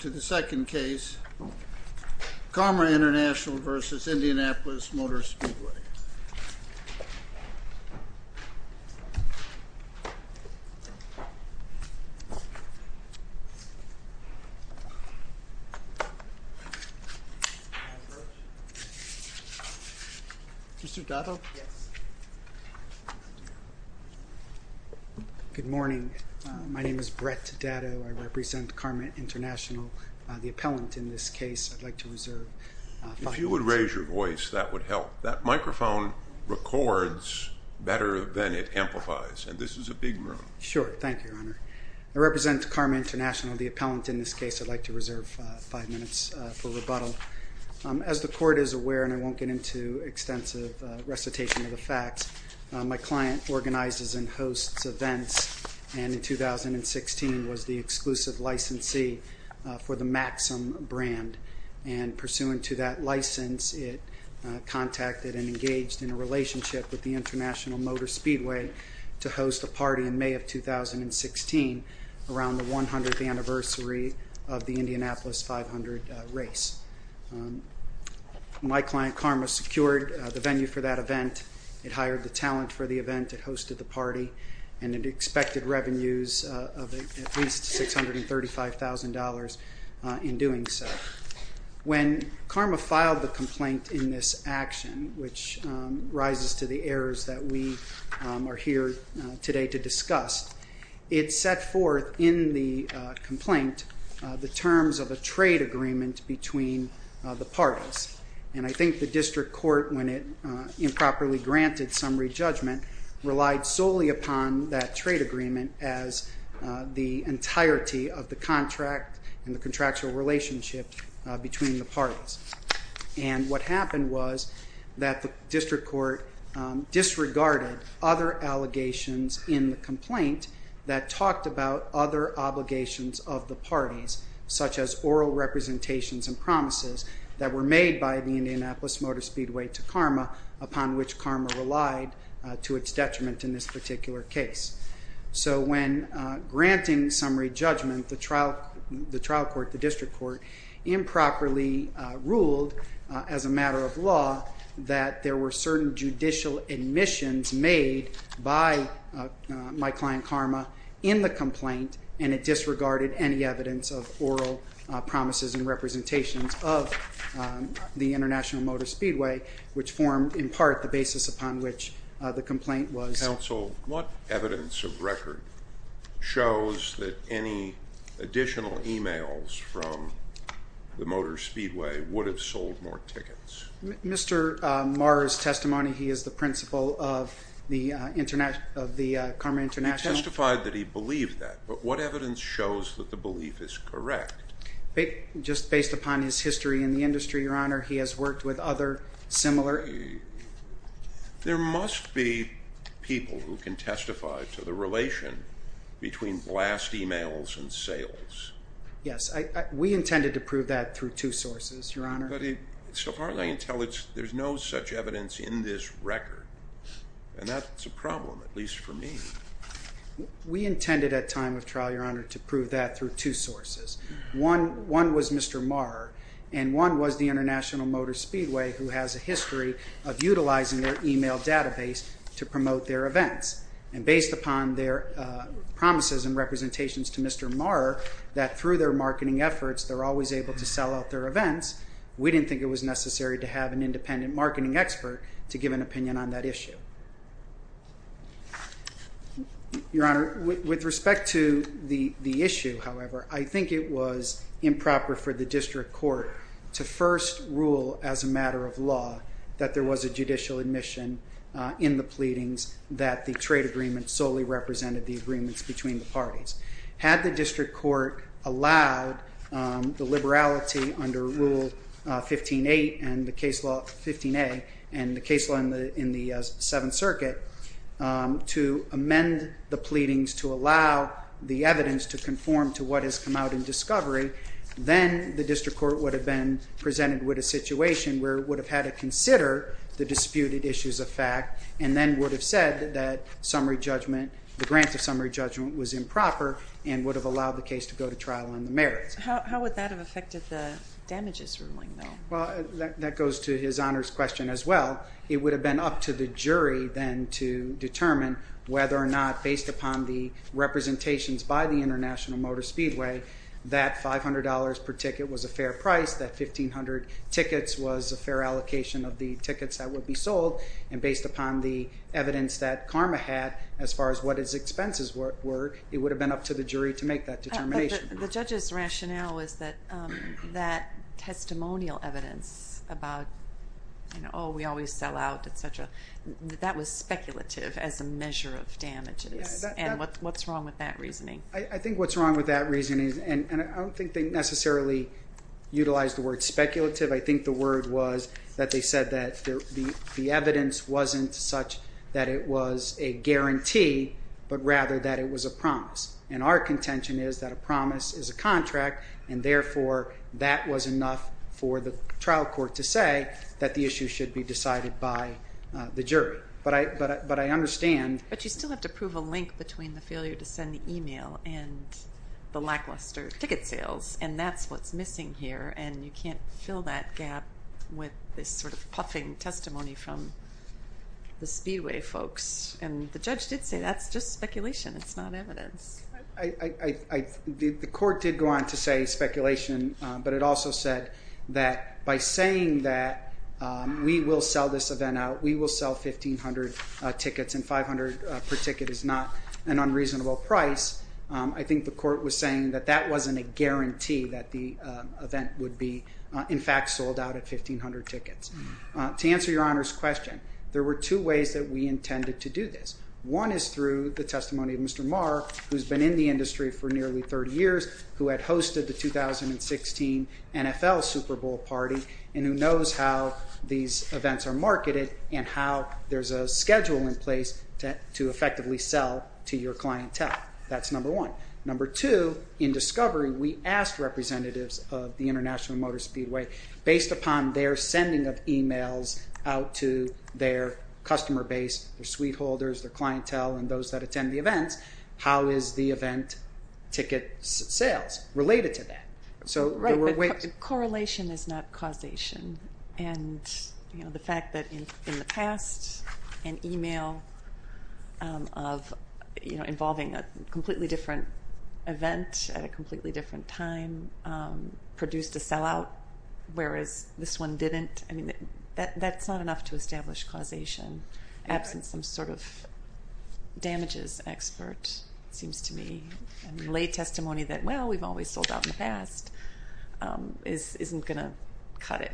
To the second case, Karma International v. Indianapolis Motor Speedway. Mr. Datto? Yes. Good morning. My name is Brett Datto. I represent Karma International, the appellant in this case. I'd like to reserve five minutes. If you would raise your voice, that would help. That microphone records better than it amplifies, and this is a big room. Sure. Thank you, Your Honor. I represent Karma International, the appellant in this case. I'd like to reserve five minutes for rebuttal. As the Court is aware, and I won't get into extensive recitation of the facts, my client organizes and hosts events, and in 2016 was the exclusive licensee for the Maxim brand. And pursuant to that license, it contacted and engaged in a relationship with the International Motor Speedway to host a party in May of 2016 around the 100th anniversary of the Indianapolis 500 race. My client, Karma, secured the venue for that event, it hired the talent for the event, it hosted the party, and it expected revenues of at least $635,000 in doing so. When Karma filed the complaint in this action, which rises to the errors that we are here today to discuss, it set forth in the complaint the terms of a trade agreement between the parties. And I think the district court, when it improperly granted summary judgment, relied solely upon that trade agreement as the entirety of the contract and the contractual relationship between the parties. And what happened was that the district court disregarded other allegations in the complaint that talked about other obligations of the parties, such as oral representations and promises that were made by the Indianapolis Motor Speedway to Karma, upon which Karma relied to its detriment in this particular case. So when granting summary judgment, the trial court, the district court, improperly ruled as a matter of law that there were certain judicial admissions made by my client, Karma, in the complaint and it disregarded any evidence of oral promises and representations of the International Motor Speedway, which formed, in part, the basis upon which the complaint was... Counsel, what evidence of record shows that any additional e-mails from the Motor Speedway would have sold more tickets? Mr. Marr's testimony, he is the principal of the Karma International... He testified that he believed that, but what evidence shows that the belief is correct? Just based upon his history in the industry, Your Honor, he has worked with other similar... There must be people who can testify to the relation between blast e-mails and sales. Yes, we intended to prove that through two sources, Your Honor. But so far as I can tell, there's no such evidence in this record, and that's a problem, at least for me. We intended at time of trial, Your Honor, to prove that through two sources. One was Mr. Marr, and one was the International Motor Speedway, who has a history of utilizing their e-mail database to promote their events. And based upon their promises and representations to Mr. Marr, that through their marketing efforts, they're always able to sell out their events, we didn't think it was necessary to have an independent marketing expert to give an opinion on that issue. Your Honor, with respect to the issue, however, I think it was improper for the district court to first rule as a matter of law that there was a judicial admission in the pleadings that the trade agreement solely represented the agreements between the parties. Had the district court allowed the liberality under Rule 15-8 and the case law 15-A and the case law in the Seventh Circuit to amend the pleadings to allow the evidence to conform to what has come out in discovery, then the district court would have been presented with a situation where it would have had to consider the disputed issues of fact and then would have said that the grant of summary judgment was improper and would have allowed the case to go to trial in the merits. How would that have affected the damages ruling, though? Well, that goes to his Honor's question as well. It would have been up to the jury then to determine whether or not, based upon the representations by the International Motor Speedway, that $500 per ticket was a fair price, that 1,500 tickets was a fair allocation of the tickets that would be sold, and based upon the evidence that CARMA had as far as what its expenses were, it would have been up to the jury to make that determination. The judge's rationale is that that testimonial evidence about, oh, we always sell out, et cetera, that was speculative as a measure of damages, and what's wrong with that reasoning? I think what's wrong with that reasoning, and I don't think they necessarily utilized the word speculative. I think the word was that they said that the evidence wasn't such that it was a guarantee, but rather that it was a promise, and our contention is that a promise is a contract, and therefore that was enough for the trial court to say that the issue should be decided by the jury. But I understand. But you still have to prove a link between the failure to send the email and the lackluster ticket sales, and that's what's missing here, and you can't fill that gap with this sort of puffing testimony from the speedway folks. And the judge did say that's just speculation. It's not evidence. The court did go on to say speculation, but it also said that by saying that we will sell this event out, we will sell 1,500 tickets, and 500 per ticket is not an unreasonable price, I think the court was saying that that wasn't a guarantee that the event would be, in fact, sold out at 1,500 tickets. To answer Your Honor's question, there were two ways that we intended to do this. One is through the testimony of Mr. Marr, who's been in the industry for nearly 30 years, who had hosted the 2016 NFL Super Bowl party, and who knows how these events are marketed and how there's a schedule in place to effectively sell to your clientele. That's number one. Number two, in discovery, we asked representatives of the International Motor Speedway, based upon their sending of emails out to their customer base, their suite holders, their clientele, and those that attend the events, how is the event ticket sales related to that? Correlation is not causation. And the fact that in the past, an email involving a completely different event at a completely different time produced a sellout, whereas this one didn't, that's not enough to establish causation. Absent some sort of damages expert, it seems to me, and lay testimony that, well, we've always sold out in the past, isn't going to cut it.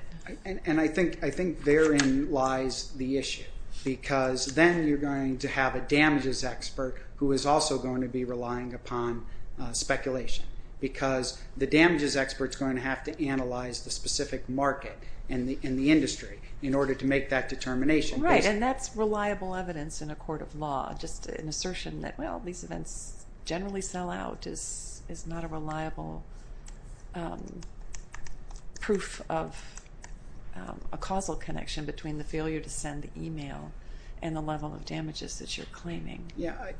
And I think therein lies the issue, because then you're going to have a damages expert who is also going to be relying upon speculation, because the damages expert is going to have to analyze the specific market in the industry in order to make that determination. Right, and that's reliable evidence in a court of law, just an assertion that, well, these events generally sell out is not a reliable proof of a causal connection between the failure to send the email and the level of damages that you're claiming. Yeah,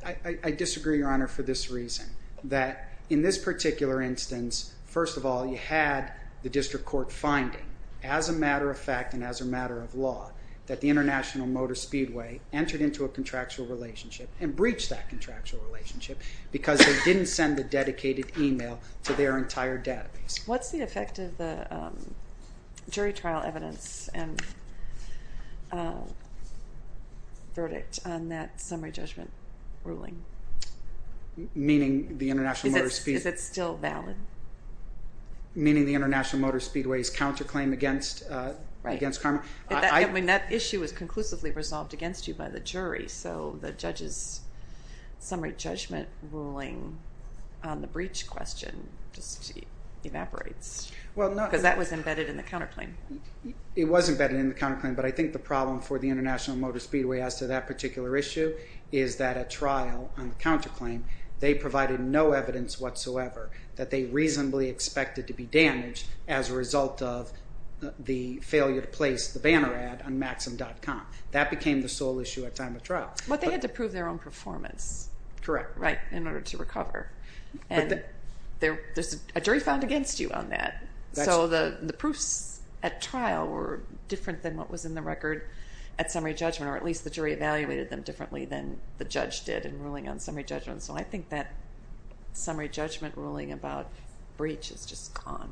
I disagree, Your Honor, for this reason, that in this particular instance, first of all, you had the district court finding as a matter of fact and as a matter of law that the International Motor Speedway entered into a contractual relationship and breached that contractual relationship because they didn't send the dedicated email to their entire database. What's the effect of the jury trial evidence and verdict on that summary judgment ruling? Meaning the International Motor Speedway? Is it still valid? Meaning the International Motor Speedway's counterclaim against Karma? Right. I mean, that issue was conclusively resolved against you by the jury, so the judge's summary judgment ruling on the breach question just evaporates, because that was embedded in the counterclaim. It was embedded in the counterclaim, but I think the problem for the International Motor Speedway as to that particular issue is that at trial on the counterclaim, they provided no evidence whatsoever that they reasonably expected to be damaged as a result of the failure to place the banner ad on maxim.com. That became the sole issue at time of trial. But they had to prove their own performance. Correct. Right, in order to recover. And there's a jury found against you on that. So the proofs at trial were different than what was in the record at summary judgment, or at least the jury evaluated them differently than the judge did in ruling on summary judgment. So I think that summary judgment ruling about breach is just gone.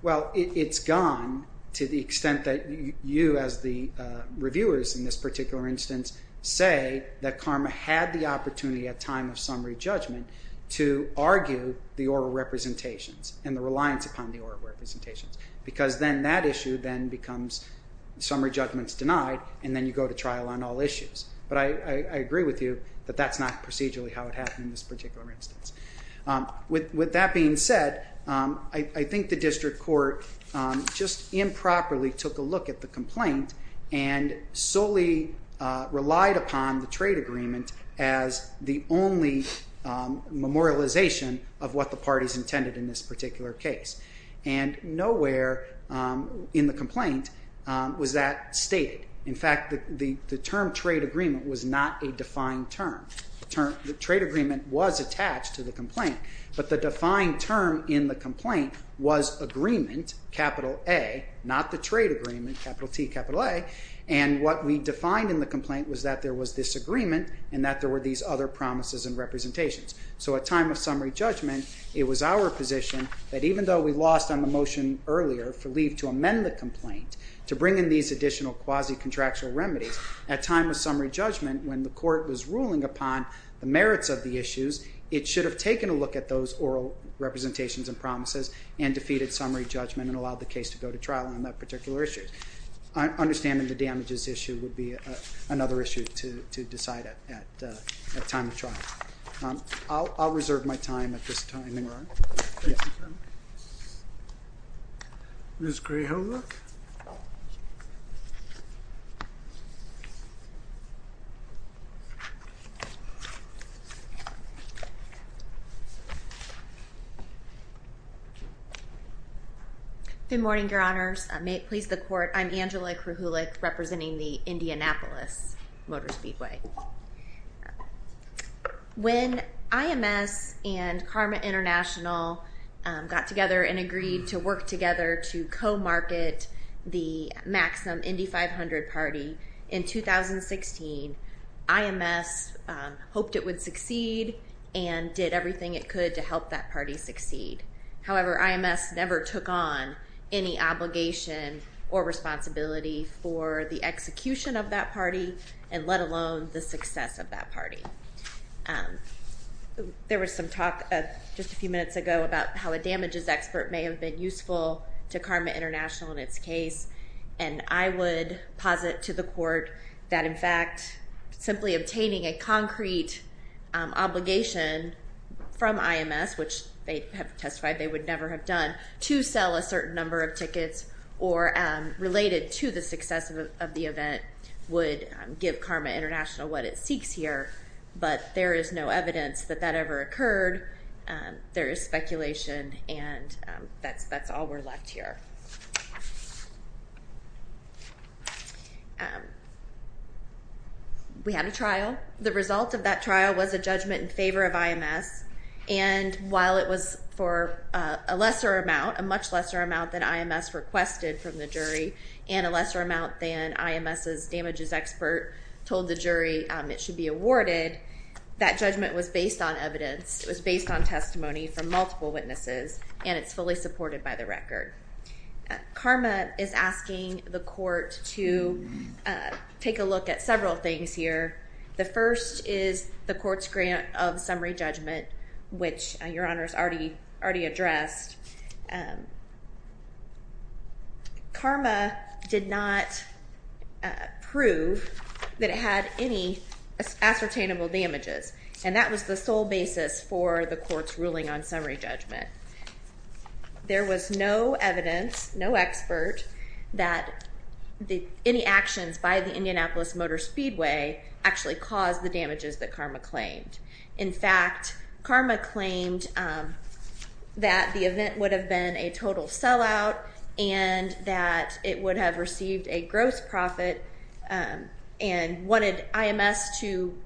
Well, it's gone to the extent that you, as the reviewers in this particular instance, say that Karma had the opportunity at time of summary judgment to argue the oral representations and the reliance upon the oral representations because then that issue then becomes summary judgments denied and then you go to trial on all issues. But I agree with you that that's not procedurally how it happened in this particular instance. With that being said, I think the district court just improperly took a look at the complaint and solely relied upon the trade agreement as the only memorialization of what the parties intended in this particular case. And nowhere in the complaint was that stated. In fact, the term trade agreement was not a defined term. The trade agreement was attached to the complaint, but the defined term in the complaint was Agreement, capital A, not the trade agreement, capital T, capital A, and that there were these other promises and representations. So at time of summary judgment, it was our position that even though we lost on the motion earlier for leave to amend the complaint to bring in these additional quasi-contractual remedies, at time of summary judgment when the court was ruling upon the merits of the issues, it should have taken a look at those oral representations and promises and defeated summary judgment and allowed the case to go to trial on that particular issue. Understanding the damages issue would be another issue to decide at time of trial. I'll reserve my time at this time, Your Honor. Thank you, sir. Ms. Grijalva? Good morning, Your Honors. I may please the court. I'm Angela Kruhulik representing the Indianapolis Motor Speedway. When IMS and Karma International got together and agreed to work together to co-market the Maxim Indy 500 party in 2016, IMS hoped it would succeed and did everything it could to help that party succeed. However, IMS never took on any obligation or responsibility for the execution of that party and let alone the success of that party. There was some talk just a few minutes ago about how a damages expert may have been useful to Karma International in its case, and I would posit to the court that, in fact, simply obtaining a concrete obligation from IMS, which they have testified they would never have done, to sell a certain number of tickets or related to the success of the event would give Karma International what it seeks here, but there is no evidence that that ever occurred. There is speculation and that's all we're left here. We had a trial. The result of that trial was a judgment in favor of IMS, and while it was for a lesser amount, a much lesser amount than IMS requested from the jury and a lesser amount than IMS's damages expert told the jury it should be awarded, that judgment was based on evidence. It was based on testimony from multiple witnesses, and it's fully supported by the record. Karma is asking the court to take a look at several things here. The first is the court's grant of summary judgment, which Your Honor has already addressed. Karma did not prove that it had any ascertainable damages, and that was the sole basis for the court's ruling on summary judgment. There was no evidence, no expert, that any actions by the Indianapolis Motor Speedway actually caused the damages that Karma claimed. In fact, Karma claimed that the event would have been a total sellout and that it would have received a gross profit and wanted IMS to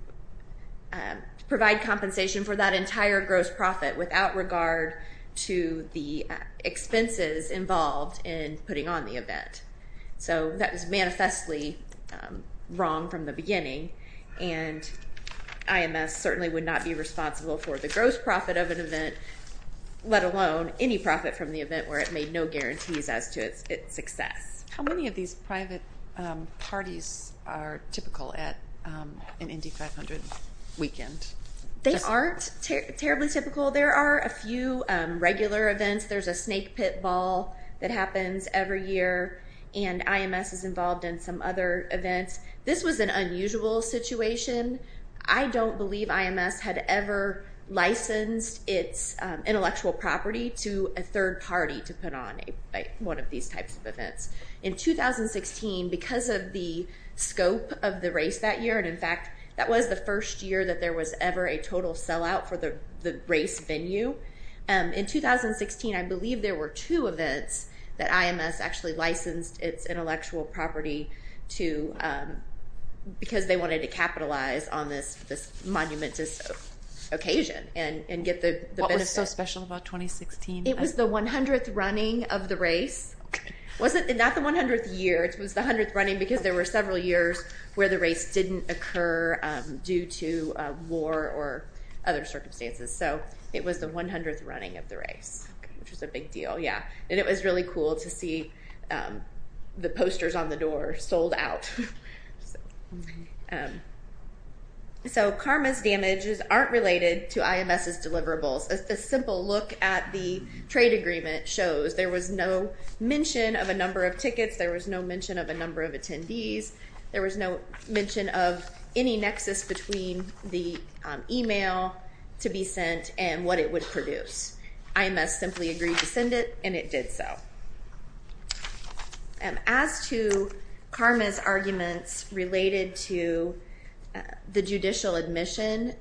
provide compensation for that entire gross profit without regard to the expenses involved in putting on the event. And IMS certainly would not be responsible for the gross profit of an event, let alone any profit from the event where it made no guarantees as to its success. How many of these private parties are typical at an Indy 500 weekend? They aren't terribly typical. There are a few regular events. There's a snake pit ball that happens every year, and IMS is involved in some other events. This was an unusual situation. I don't believe IMS had ever licensed its intellectual property to a third party to put on one of these types of events. In 2016, because of the scope of the race that year, and in fact that was the first year that there was ever a total sellout for the race venue, in 2016 I believe there were two events that IMS actually licensed its intellectual property to because they wanted to capitalize on this monumentous occasion and get the benefit. What was so special about 2016? It was the 100th running of the race. Not the 100th year, it was the 100th running because there were several years where the race didn't occur due to war or other circumstances. So it was the 100th running of the race, which was a big deal. It was really cool to see the posters on the door sold out. So CARMA's damages aren't related to IMS's deliverables. A simple look at the trade agreement shows there was no mention of a number of tickets, there was no mention of a number of attendees, there was no mention of any nexus between the email to be sent and what it would produce. IMS simply agreed to send it and it did so. As to CARMA's arguments related to the judicial admission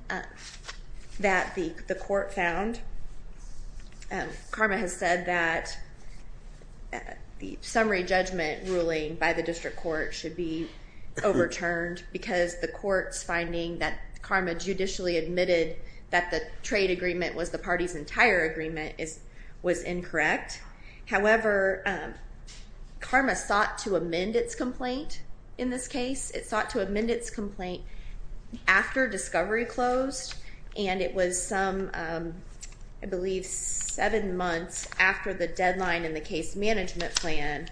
that the court found, CARMA has said that the summary judgment ruling by the district court should be overturned because the court's finding that CARMA judicially admitted that the trade agreement was the party's entire agreement was incorrect. However, CARMA sought to amend its complaint in this case. It sought to amend its complaint after discovery closed and it was some, I believe, seven months after the deadline in the case management plan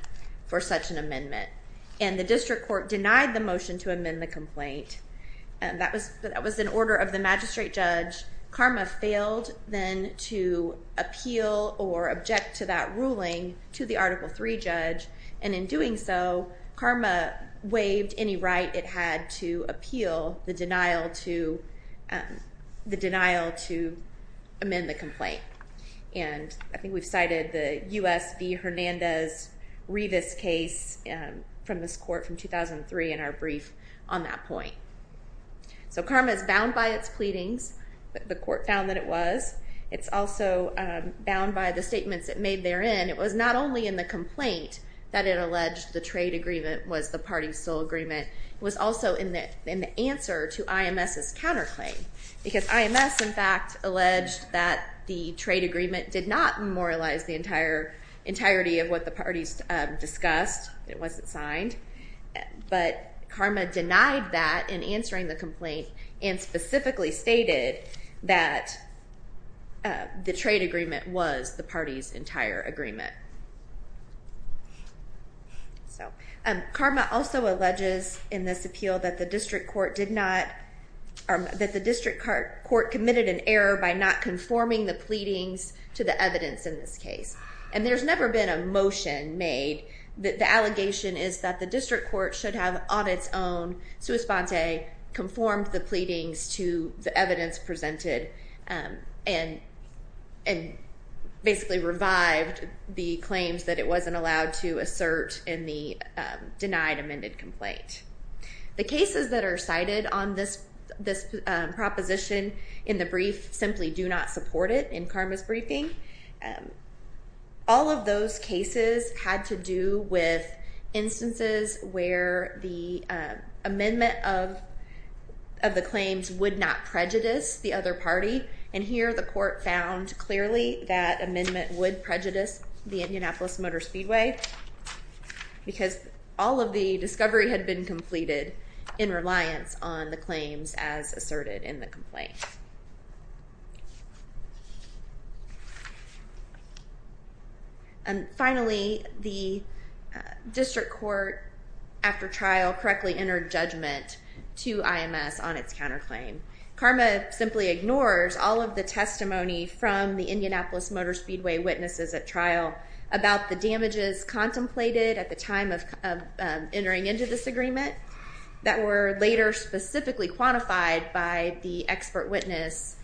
for such an amendment. And the district court denied the motion to amend the complaint. That was an order of the magistrate judge. CARMA failed then to appeal or object to that ruling to the Article III judge and in doing so, CARMA waived any right it had to appeal the denial to amend the complaint. And I think we've cited the U.S. v. Hernandez-Rivas case from this court from 2003 in our brief on that point. So CARMA is bound by its pleadings. The court found that it was. It's also bound by the statements it made therein. It was not only in the complaint that it alleged the trade agreement was the party's sole agreement. It was also in the answer to IMS's counterclaim because IMS, in fact, alleged that the trade agreement did not memorialize the entirety of what the parties discussed. It wasn't signed. But CARMA denied that in answering the complaint and specifically stated that the trade agreement was the party's entire agreement. CARMA also alleges in this appeal that the district court committed an error by not conforming the pleadings to the evidence in this case. And there's never been a motion made. The allegation is that the district court should have, on its own, sua sponte, conformed the pleadings to the evidence presented and basically revived the claims that it wasn't allowed to assert in the denied amended complaint. The cases that are cited on this proposition in the brief simply do not support it in CARMA's briefing. All of those cases had to do with instances where the amendment of the claims would not prejudice the other party. And here the court found clearly that amendment would prejudice the Indianapolis Motor Speedway because all of the discovery had been completed in reliance on the claims as asserted in the complaint. And finally, the district court, after trial, correctly entered judgment to IMS on its counterclaim. CARMA simply ignores all of the testimony from the Indianapolis Motor Speedway witnesses at trial about the damages contemplated at the time of entering into this agreement that were later specifically quantified by the expert witness,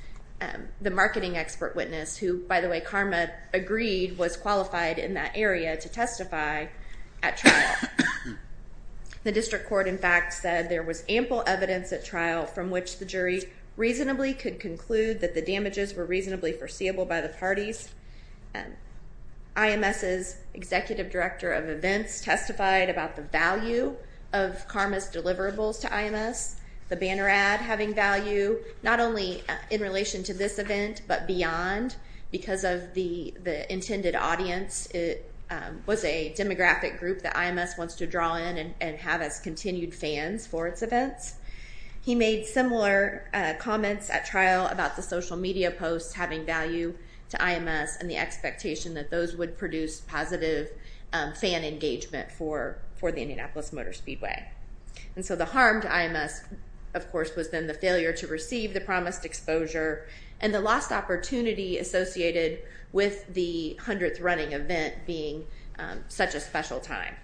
the marketing expert witness who, by the way, CARMA agreed was qualified in that area to testify at trial. The district court, in fact, said there was ample evidence at trial from which the jury reasonably could conclude that the damages were reasonably foreseeable by the parties. IMS's executive director of events testified about the value of CARMA's deliverables to IMS, the banner ad having value not only in relation to this event but beyond because of the intended audience. It was a demographic group that IMS wants to draw in and have as continued fans for its events. He made similar comments at trial about the social media posts having value to IMS and the expectation that those would produce positive fan engagement for the Indianapolis Motor Speedway. And so the harm to IMS, of course, was then the failure to receive the promised exposure and the lost opportunity associated with the 100th running event being such a special time.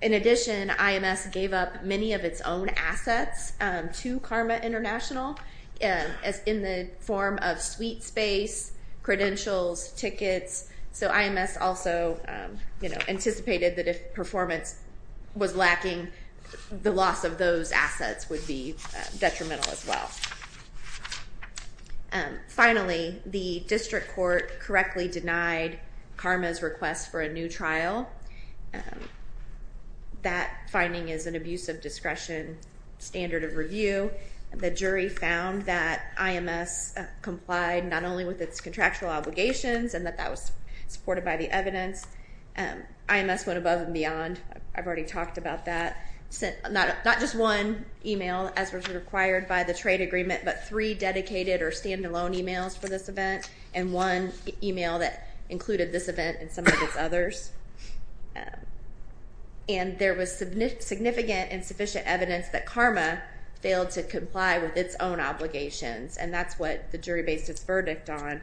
In addition, IMS gave up many of its own assets to CARMA International in the form of suite space, credentials, tickets. So IMS also anticipated that if performance was lacking, the loss of those assets would be detrimental as well. Finally, the district court correctly denied CARMA's request for a new trial. That finding is an abuse of discretion standard of review. The jury found that IMS complied not only with its contractual obligations and that that was supported by the evidence. IMS went above and beyond. I've already talked about that. Not just one email, as was required by the trade agreement, but three dedicated or stand-alone emails for this event and one email that included this event and some of its others. And there was significant and sufficient evidence that CARMA failed to comply with its own obligations, and that's what the jury based its verdict on.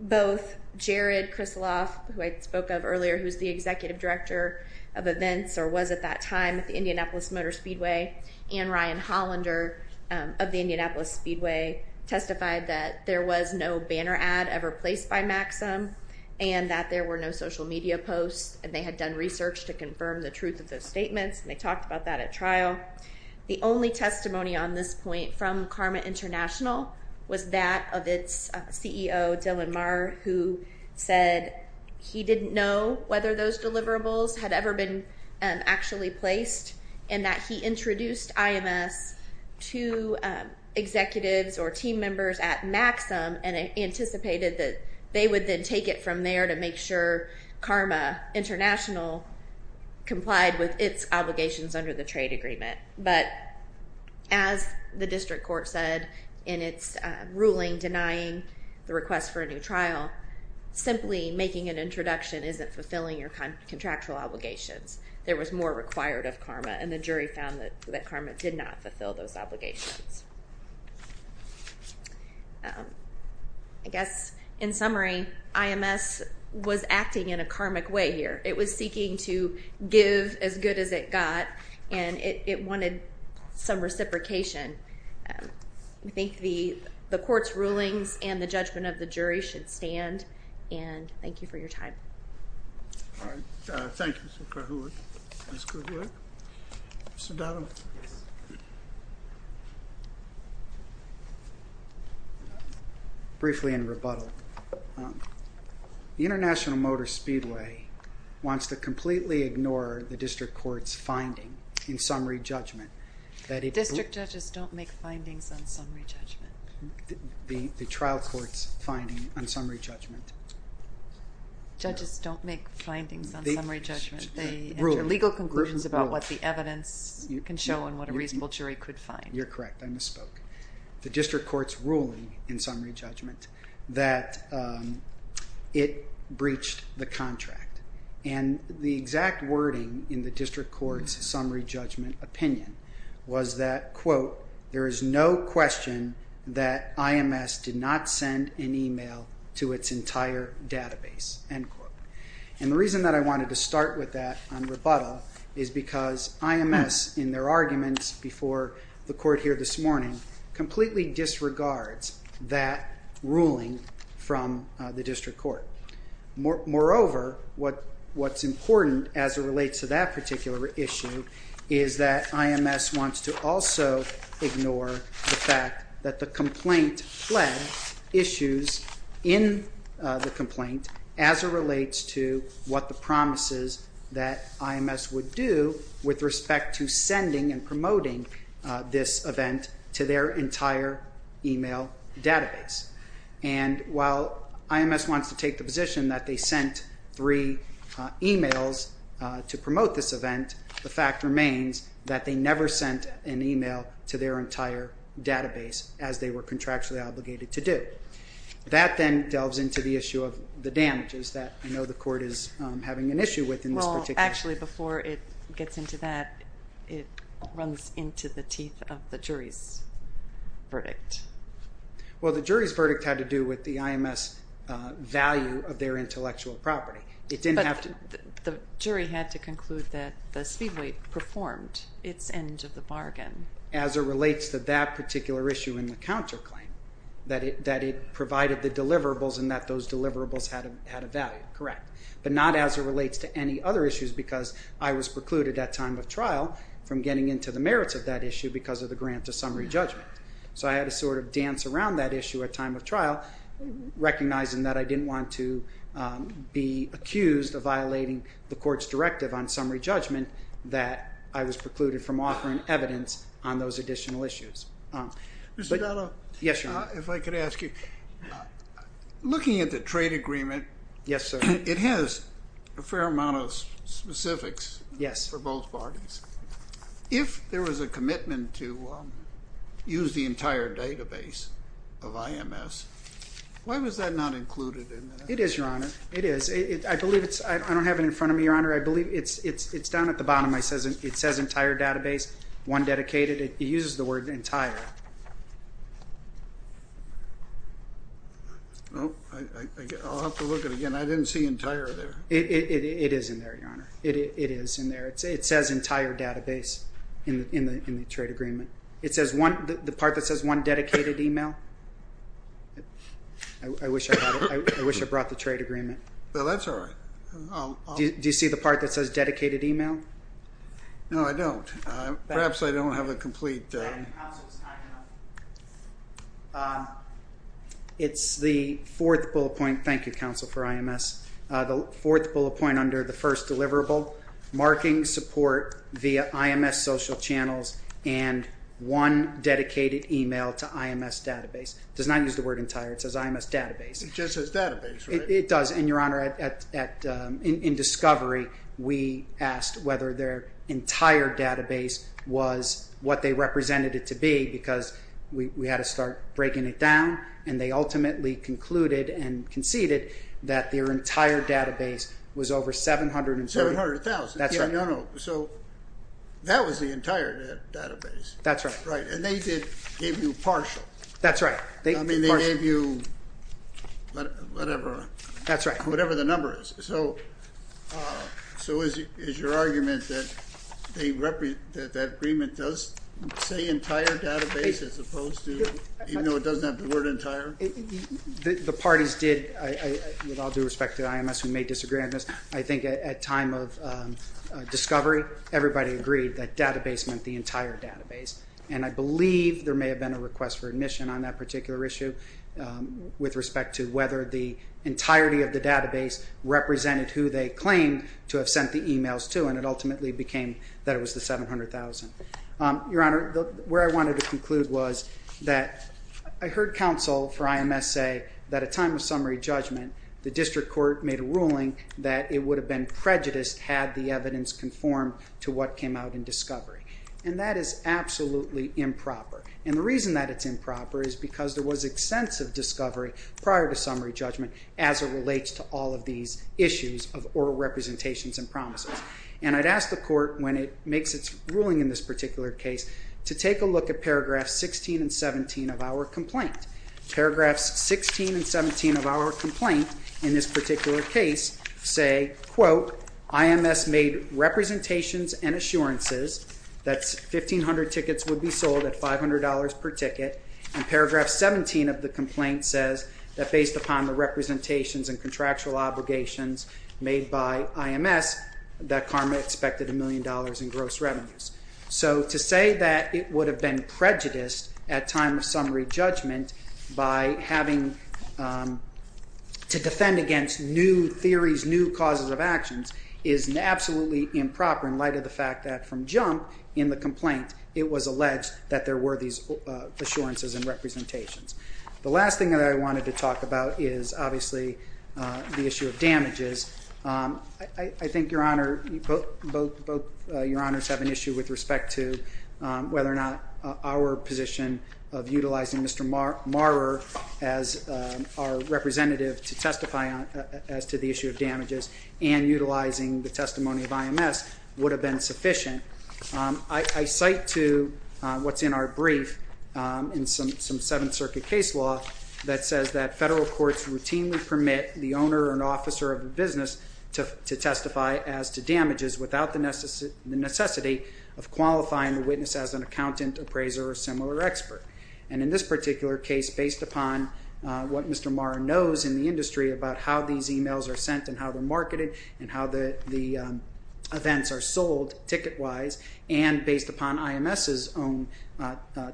Both Jared Krisloff, who I spoke of earlier, who's the executive director of events or was at that time at the Indianapolis Motor Speedway, and Ryan Hollander of the Indianapolis Speedway testified that there was no banner ad ever placed by MAXIM and that there were no social media posts, and they had done research to confirm the truth of those statements, and they talked about that at trial. The only testimony on this point from CARMA International was that of its CEO, Dylan Maher, who said he didn't know whether those deliverables had ever been actually placed and that he introduced IMS to executives or team members at MAXIM and anticipated that they would then take it from there to make sure CARMA International complied with its obligations under the trade agreement. But as the district court said in its ruling denying the request for a new trial, simply making an introduction isn't fulfilling your contractual obligations. There was more required of CARMA, and the jury found that CARMA did not fulfill those obligations. I guess, in summary, IMS was acting in a karmic way here. It was seeking to give as good as it got, and it wanted some reciprocation. I think the court's rulings and the judgment of the jury should stand, and thank you for your time. All right. Thank you, Ms. Krahulik. Ms. Krahulik? Mr. Donovan? Briefly in rebuttal, the International Motor Speedway wants to completely ignore the district court's finding in summary judgment. District judges don't make findings on summary judgment. The trial court's finding on summary judgment. Judges don't make findings on summary judgment. They enter legal conclusions about what the evidence can show and what a reasonable jury could find. You're correct. I misspoke. The district court's ruling in summary judgment that it breached the contract, and the exact wording in the district court's summary judgment opinion was that, quote, there is no question that IMS did not send an email to its entire database, end quote. And the reason that I wanted to start with that on rebuttal is because IMS, in their arguments before the court here this morning, completely disregards that ruling from the district court. Moreover, what's important as it relates to that particular issue is that IMS wants to also ignore the fact that the complaint fled issues in the complaint as it relates to what the promises that IMS would do with respect to sending and promoting this event to their entire email database. And while IMS wants to take the position that they sent three emails to promote this event, the fact remains that they never sent an email to their entire database as they were contractually obligated to do. That then delves into the issue of the damages that I know the court is having an issue with in this particular case. Well, actually, before it gets into that, it runs into the teeth of the jury's verdict. Well, the jury's verdict had to do with the IMS value of their intellectual property. But the jury had to conclude that the Speedway performed its end of the bargain. As it relates to that particular issue in the counterclaim, that it provided the deliverables and that those deliverables had a value. Correct. But not as it relates to any other issues because I was precluded at time of trial from getting into the merits of that issue because of the grant to summary judgment. So I had to sort of dance around that issue at time of trial, recognizing that I didn't want to be accused of violating the court's directive on summary judgment that I was precluded from offering evidence on those additional issues. Mr. Dotto. Yes, Your Honor. If I could ask you, looking at the trade agreement. Yes, sir. It has a fair amount of specifics for both parties. If there was a commitment to use the entire database of IMS, why was that not included in that? It is, Your Honor. It is. I don't have it in front of me, Your Honor. It's down at the bottom. It says entire database, one dedicated. It uses the word entire. I'll have to look at it again. I didn't see entire there. It is in there, Your Honor. It is in there. It says entire database in the trade agreement. The part that says one dedicated email? I wish I brought the trade agreement. That's all right. Do you see the part that says dedicated email? No, I don't. Perhaps I don't have a complete. It's the fourth bullet point. Thank you, counsel, for IMS. The fourth bullet point under the first deliverable, marking support via IMS social channels and one dedicated email to IMS database. It does not use the word entire. It says IMS database. It just says database, right? It does. And, Your Honor, in discovery, we asked whether their entire database was what they represented it to be because we had to start breaking it down. And they ultimately concluded and conceded that their entire database was over 700,000. 700,000. That's right. No, no. So that was the entire database. That's right. Right. And they did give you partial. That's right. I mean, they gave you whatever the number is. So is your argument that that agreement does say entire database as opposed to, even though it doesn't have the word entire? The parties did, with all due respect to IMS, who may disagree on this, I think at time of discovery, everybody agreed that database meant the entire database. And I believe there may have been a request for admission on that particular issue with respect to whether the entirety of the database represented who they claimed to have sent the emails to. And it ultimately became that it was the 700,000. Your Honor, where I wanted to conclude was that I heard counsel for IMS say that at time of summary judgment, the district court made a ruling that it would have been prejudiced had the evidence conformed to what came out in discovery. And that is absolutely improper. And the reason that it's improper is because there was extensive discovery prior to summary judgment as it relates to all of these issues of oral representations and promises. And I'd ask the court, when it makes its ruling in this particular case, to take a look at paragraphs 16 and 17 of our complaint. Paragraphs 16 and 17 of our complaint in this particular case say, quote, IMS made representations and assurances that 1,500 tickets would be sold at $500 per ticket. And paragraph 17 of the complaint says that based upon the representations and contractual obligations made by IMS, that CARMA expected a million dollars in gross revenues. So to say that it would have been prejudiced at time of summary judgment by having to defend against new theories, new causes of actions, is absolutely improper in light of the fact that from jump in the complaint, it was alleged that there were these assurances and representations. The last thing that I wanted to talk about is obviously the issue of damages. I think both your honors have an issue with respect to whether or not our position of utilizing Mr. Marler as our representative to testify as to the issue of damages and utilizing the testimony of IMS would have been sufficient. I cite to what's in our brief in some Seventh Circuit case law that says that federal courts routinely permit the owner and officer of a business to testify as to damages without the necessity of qualifying the witness as an accountant, appraiser, or similar expert. And in this particular case, based upon what Mr. Marler knows in the industry about how these emails are sent and how they're marketed and how the events are sold ticket-wise, and based upon IMS's own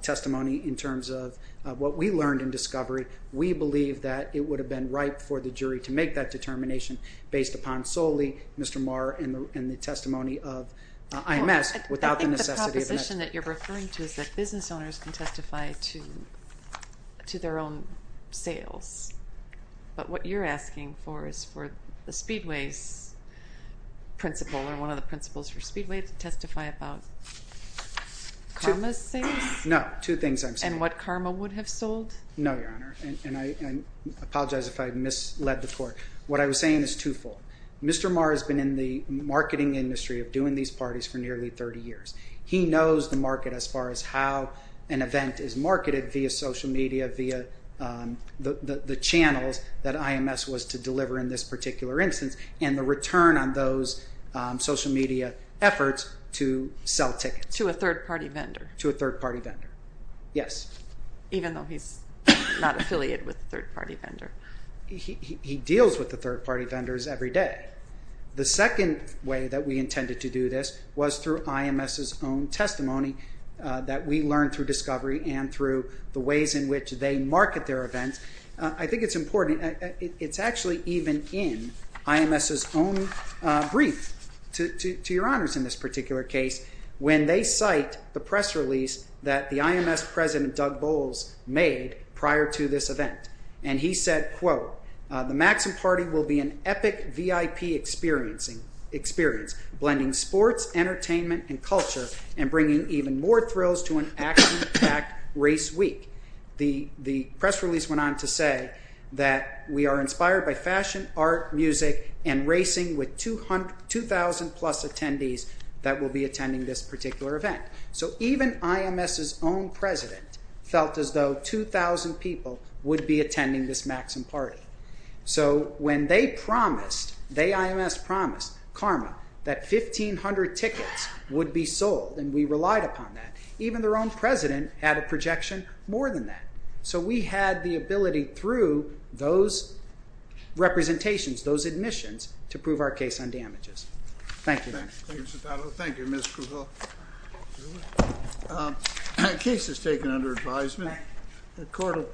testimony in terms of what we learned in discovery, we believe that it would have been right for the jury to make that determination based upon solely Mr. Marler and the testimony of IMS without the necessity of an accountant. The question that you're referring to is that business owners can testify to their own sales. But what you're asking for is for the Speedway's principal or one of the principals for Speedway to testify about Karma's sales? No, two things I'm saying. And what Karma would have sold? No, Your Honor. And I apologize if I misled the court. What I was saying is twofold. Mr. Marler has been in the marketing industry of doing these parties for nearly 30 years. He knows the market as far as how an event is marketed via social media, via the channels that IMS was to deliver in this particular instance, and the return on those social media efforts to sell tickets. To a third-party vendor? To a third-party vendor, yes. Even though he's not affiliated with a third-party vendor? He deals with the third-party vendors every day. The second way that we intended to do this was through IMS's own testimony that we learned through discovery and through the ways in which they market their events. I think it's important. It's actually even in IMS's own brief to Your Honors in this particular case when they cite the press release that the IMS president, Doug Bowles, made prior to this event. And he said, quote, The Maxim Party will be an epic VIP experience, blending sports, entertainment, and culture, and bringing even more thrills to an action-packed race week. The press release went on to say that we are inspired by fashion, art, music, and racing with 2,000-plus attendees that will be attending this particular event. So even IMS's own president felt as though 2,000 people would be attending this Maxim Party. So when they promised, they, IMS, promised, karma, that 1,500 tickets would be sold, and we relied upon that, even their own president had a projection more than that. So we had the ability through those representations, those admissions, to prove our case on damages. Thank you. Thank you. Thank you, Mr. Powell. Thank you, Ms. Krugel. Case is taken under advisement.